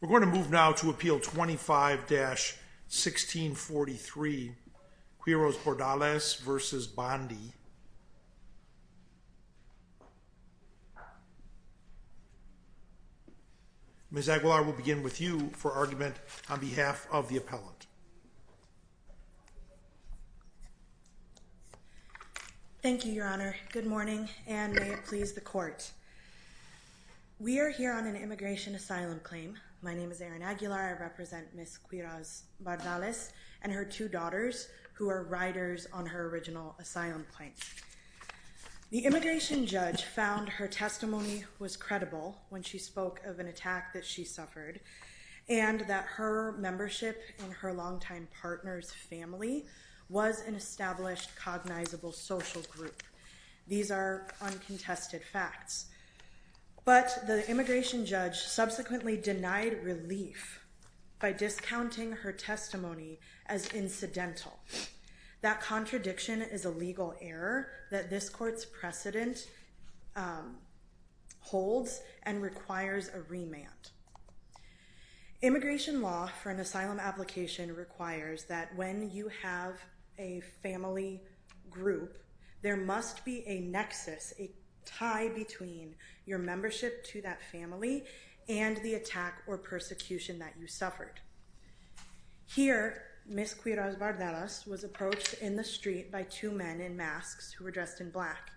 We're going to move now to appeal 25-1643 Quiroz-Bardales v. Bondi. Ms. Aguilar, we'll begin with you for argument on behalf of the appellant. Thank you, Your Honor. Good morning, and may it please the court. We are here on an immigration asylum claim. My name is Erin Aguilar. I represent Ms. Quiroz-Bardales and her two daughters, who are riders on her original asylum claim. The immigration judge found her testimony was credible when she spoke of an attack that she suffered, and that her membership in her longtime partner's family was an established cognizable social group. These are uncontested facts. But the immigration judge subsequently denied relief by discounting her testimony as incidental. That contradiction is a legal error that this court's precedent holds and requires a remand. Immigration law for an asylum application requires that when you have a family group, there must be a nexus, a tie between your membership to that family and the attack or persecution that you suffered. Here, Ms. Quiroz-Bardales was approached in the street by two men in masks who were dressed in black.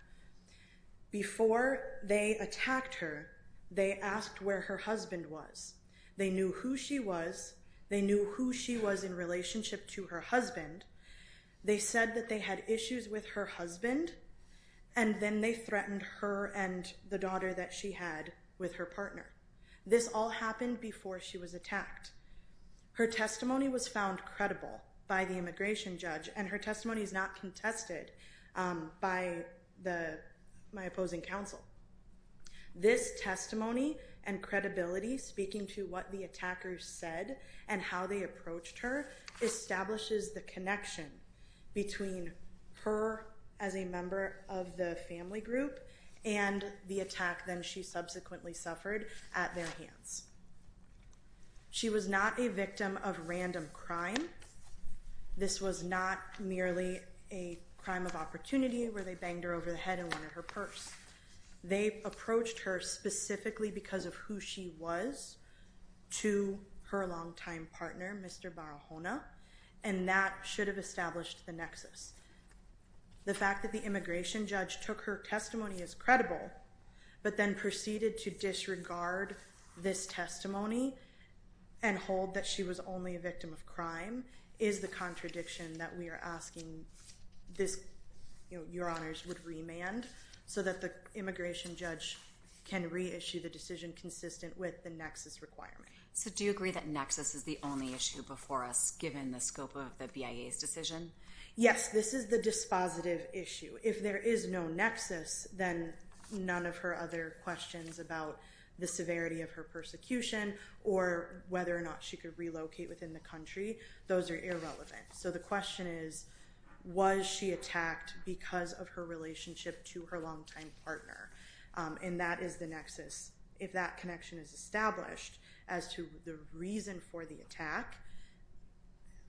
Before they attacked her, they asked where her husband was. They knew who she was. They knew who she was in relationship to her husband. They said that they had issues with her husband, and then they threatened her and the daughter that she had with her partner. This all happened before she was attacked. Her testimony was found credible by the immigration judge, and her testimony is not contested by my opposing counsel. This testimony and credibility speaking to what the attackers said and how they approached her establishes the connection between her as a member of the family group and the attack that she subsequently suffered at their hands. She was not a victim of random crime. This was not merely a crime of opportunity where they banged her over the head and wanted her purse. They approached her specifically because of who she was to her long-time partner, Mr. Barahona, and that should have established the nexus. The fact that the immigration judge took her testimony as credible, but then proceeded to disregard this testimony and hold that she was only a victim of crime is the contradiction that we are asking your honors would remand so that the immigration judge can reissue the decision consistent with the nexus requirement. So do you agree that nexus is the only issue before us given the scope of the BIA's decision? Yes, this is the dispositive issue. If there is no nexus, then none of her other questions about the severity of her persecution or whether or not she could relocate within the country, those are irrelevant. So the question is, was she attacked because of her relationship to her long-time partner? And that is the nexus. If that connection is established as to the reason for the attack,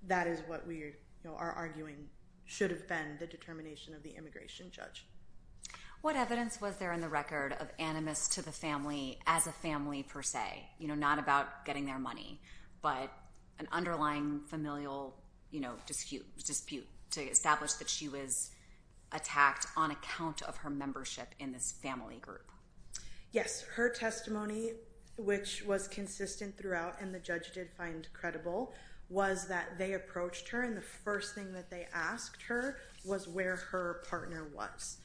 that is what we are arguing should have been the determination of the immigration judge. What evidence was there in the record of animus to the family as a family per se, not about getting their money, but an underlying familial dispute to establish that she was attacked on account of her membership in this family group? Yes, her testimony, which was consistent throughout and the judge did find credible, was that they approached her and the first thing that they asked her was where her partner was.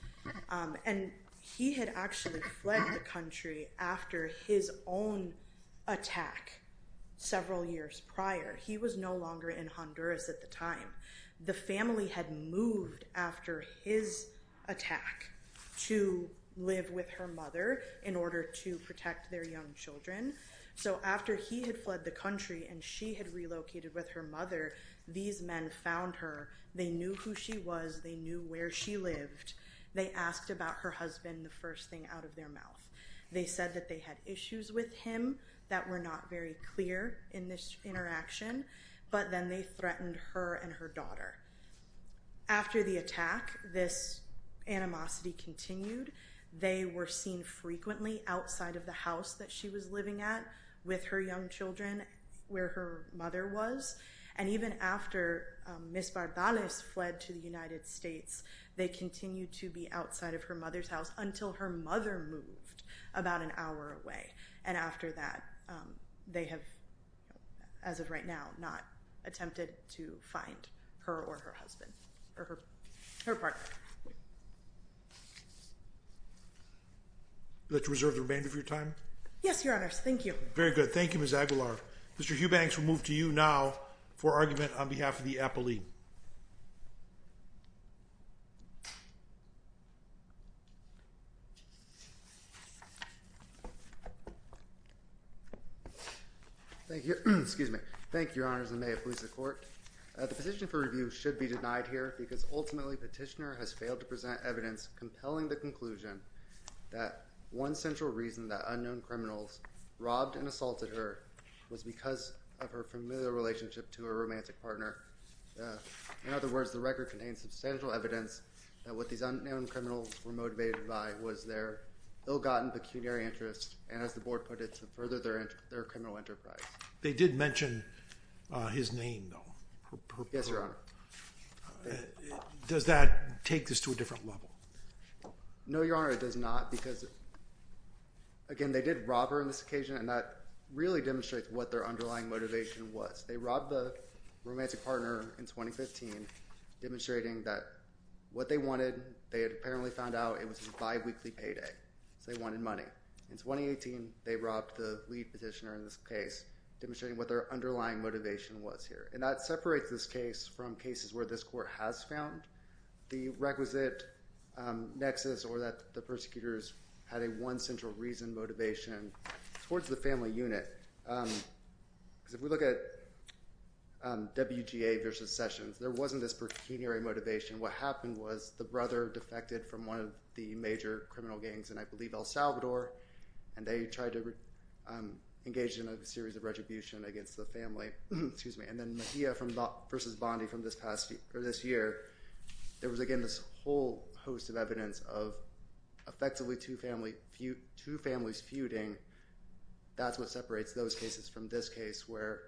And he had actually fled the country after his own attack several years prior. He was no longer in Honduras at the time. The family had moved after his attack to live with her mother in order to protect their young children. So after he had fled the country and she had relocated with her mother, these men found her. They knew who she was. They knew where she lived. They asked about her husband the first thing out of their mouth. They said that they had issues with him that were not very clear in this interaction. But then they threatened her and her daughter. After the attack, this animosity continued. They were seen frequently outside of the house that she was living at with her young children where her mother was. And even after Ms. Barbales fled to the United States, they continued to be outside of her mother's house until her mother moved about an hour away. And after that, they have, as of right now, not attempted to find her or her husband or her partner. Would you like to reserve the remainder of your time? Yes, Your Honors. Thank you. Very good. Thank you, Ms. Aguilar. Mr. Hughbanks, we'll move to you now for argument on behalf of the appellee. Thank you. Excuse me. Thank you, Your Honors. And may it please the Court. The petition for review should be denied here because ultimately petitioner has failed to present evidence compelling the conclusion that one central reason that unknown criminals robbed and assaulted her was because of her familiar relationship to her romantic partner. In other words, the record contains substantial evidence that what these unknown criminals were motivated by was their ill-gotten pecuniary interest and, as the Board put it, to further their criminal enterprise. They did mention his name, though. Yes, Your Honor. Does that take this to a different level? No, Your Honor, it does not because, again, they did rob her on this occasion, and that really demonstrates what their underlying motivation was. They robbed the romantic partner in 2015, demonstrating that what they wanted, they had apparently found out it was a biweekly payday, so they wanted money. In 2018, they robbed the lead petitioner in this case, demonstrating what their underlying motivation was here. And that separates this case from cases where this Court has found the requisite nexus or that the persecutors had a one central reason motivation towards the family unit. Because if we look at WGA versus Sessions, there wasn't this pecuniary motivation. What happened was the brother defected from one of the major criminal gangs in, I believe, El Salvador, and they tried to engage in a series of retribution against the family. And then Mejia versus Bondi from this year, there was, again, this whole host of evidence of effectively two families feuding. That's what separates those cases from this case, where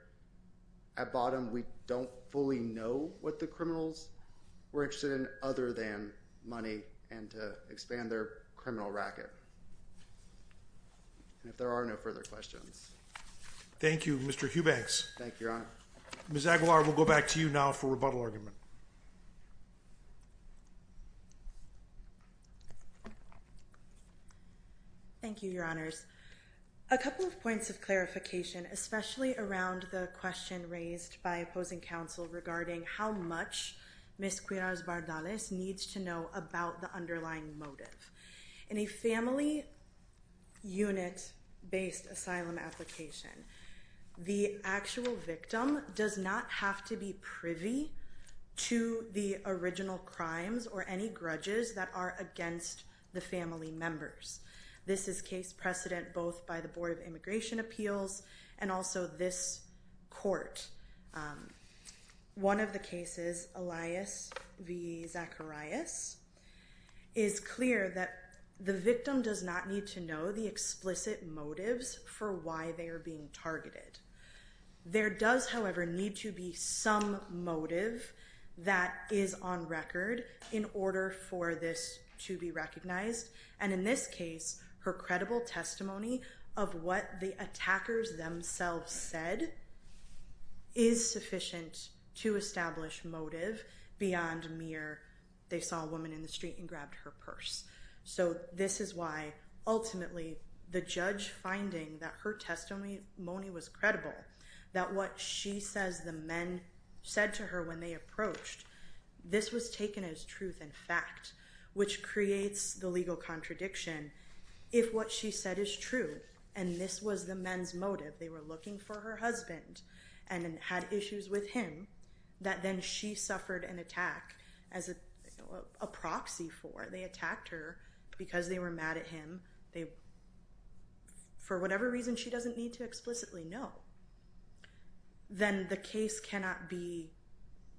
at bottom, we don't fully know what the criminals were interested in other than money and to expand their criminal racket. And if there are no further questions. Thank you, Mr. Hubanks. Thank you, Your Honor. Ms. Aguilar, we'll go back to you now for rebuttal argument. Thank you, Your Honors. A couple of points of clarification, especially around the question raised by opposing counsel regarding how much Ms. Quiroz Bardales needs to know about the underlying motive. In a family unit-based asylum application, the actual victim does not have to be privy to the original crimes or any grudges that are against the family members. This is case precedent both by the Board of Immigration Appeals and also this court. One of the cases, Elias v. Zacharias, is clear that the victim does not need to know the explicit motives for why they are being targeted. There does, however, need to be some motive that is on record in order for this to be recognized. And in this case, her credible testimony of what the attackers themselves said is sufficient to establish motive beyond mere, they saw a woman in the street and grabbed her purse. So this is why, ultimately, the judge finding that her testimony was credible, that what she says the men said to her when they approached, this was taken as truth and fact, which creates the legal contradiction. If what she said is true, and this was the men's motive, they were looking for her husband and had issues with him, that then she suffered an attack as a proxy for. They attacked her because they were mad at him. For whatever reason, she doesn't need to explicitly know. Then the case cannot be,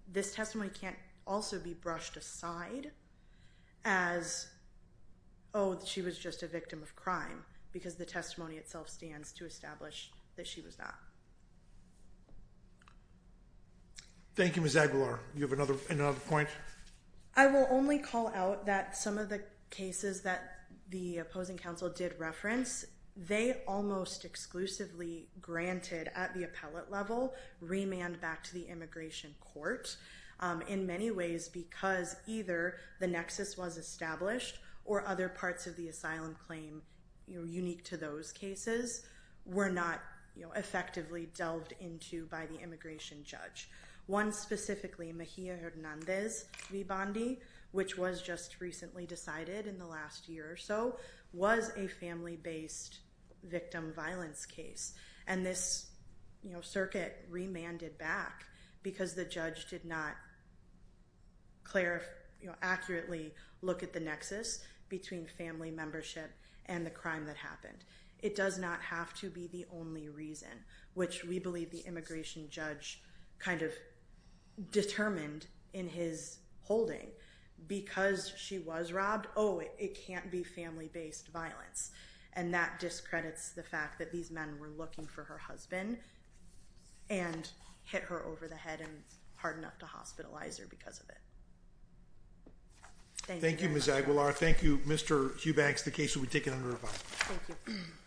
this testimony can't also be brushed aside as, oh, she was just a victim of crime, because the testimony itself stands to establish that she was not. Thank you, Ms. Aguilar. Do you have another point? I will only call out that some of the cases that the opposing counsel did reference, they almost exclusively granted, at the appellate level, remand back to the immigration court in many ways because either the nexus was established or other parts of the asylum claim unique to those cases were not effectively delved into by the immigration judge. One specifically, Mejia Hernandez v. Bondi, which was just recently decided in the last year or so, was a family-based victim violence case. This circuit remanded back because the judge did not accurately look at the nexus between family membership and the crime that happened. It does not have to be the only reason, which we believe the immigration judge determined in his holding. Because she was robbed, oh, it can't be family-based violence. And that discredits the fact that these men were looking for her husband and hit her over the head and hardened up to hospitalize her because of it. Thank you. Thank you, Ms. Aguilar. Thank you, Mr. Hubanks. The case will be taken under review. Thank you.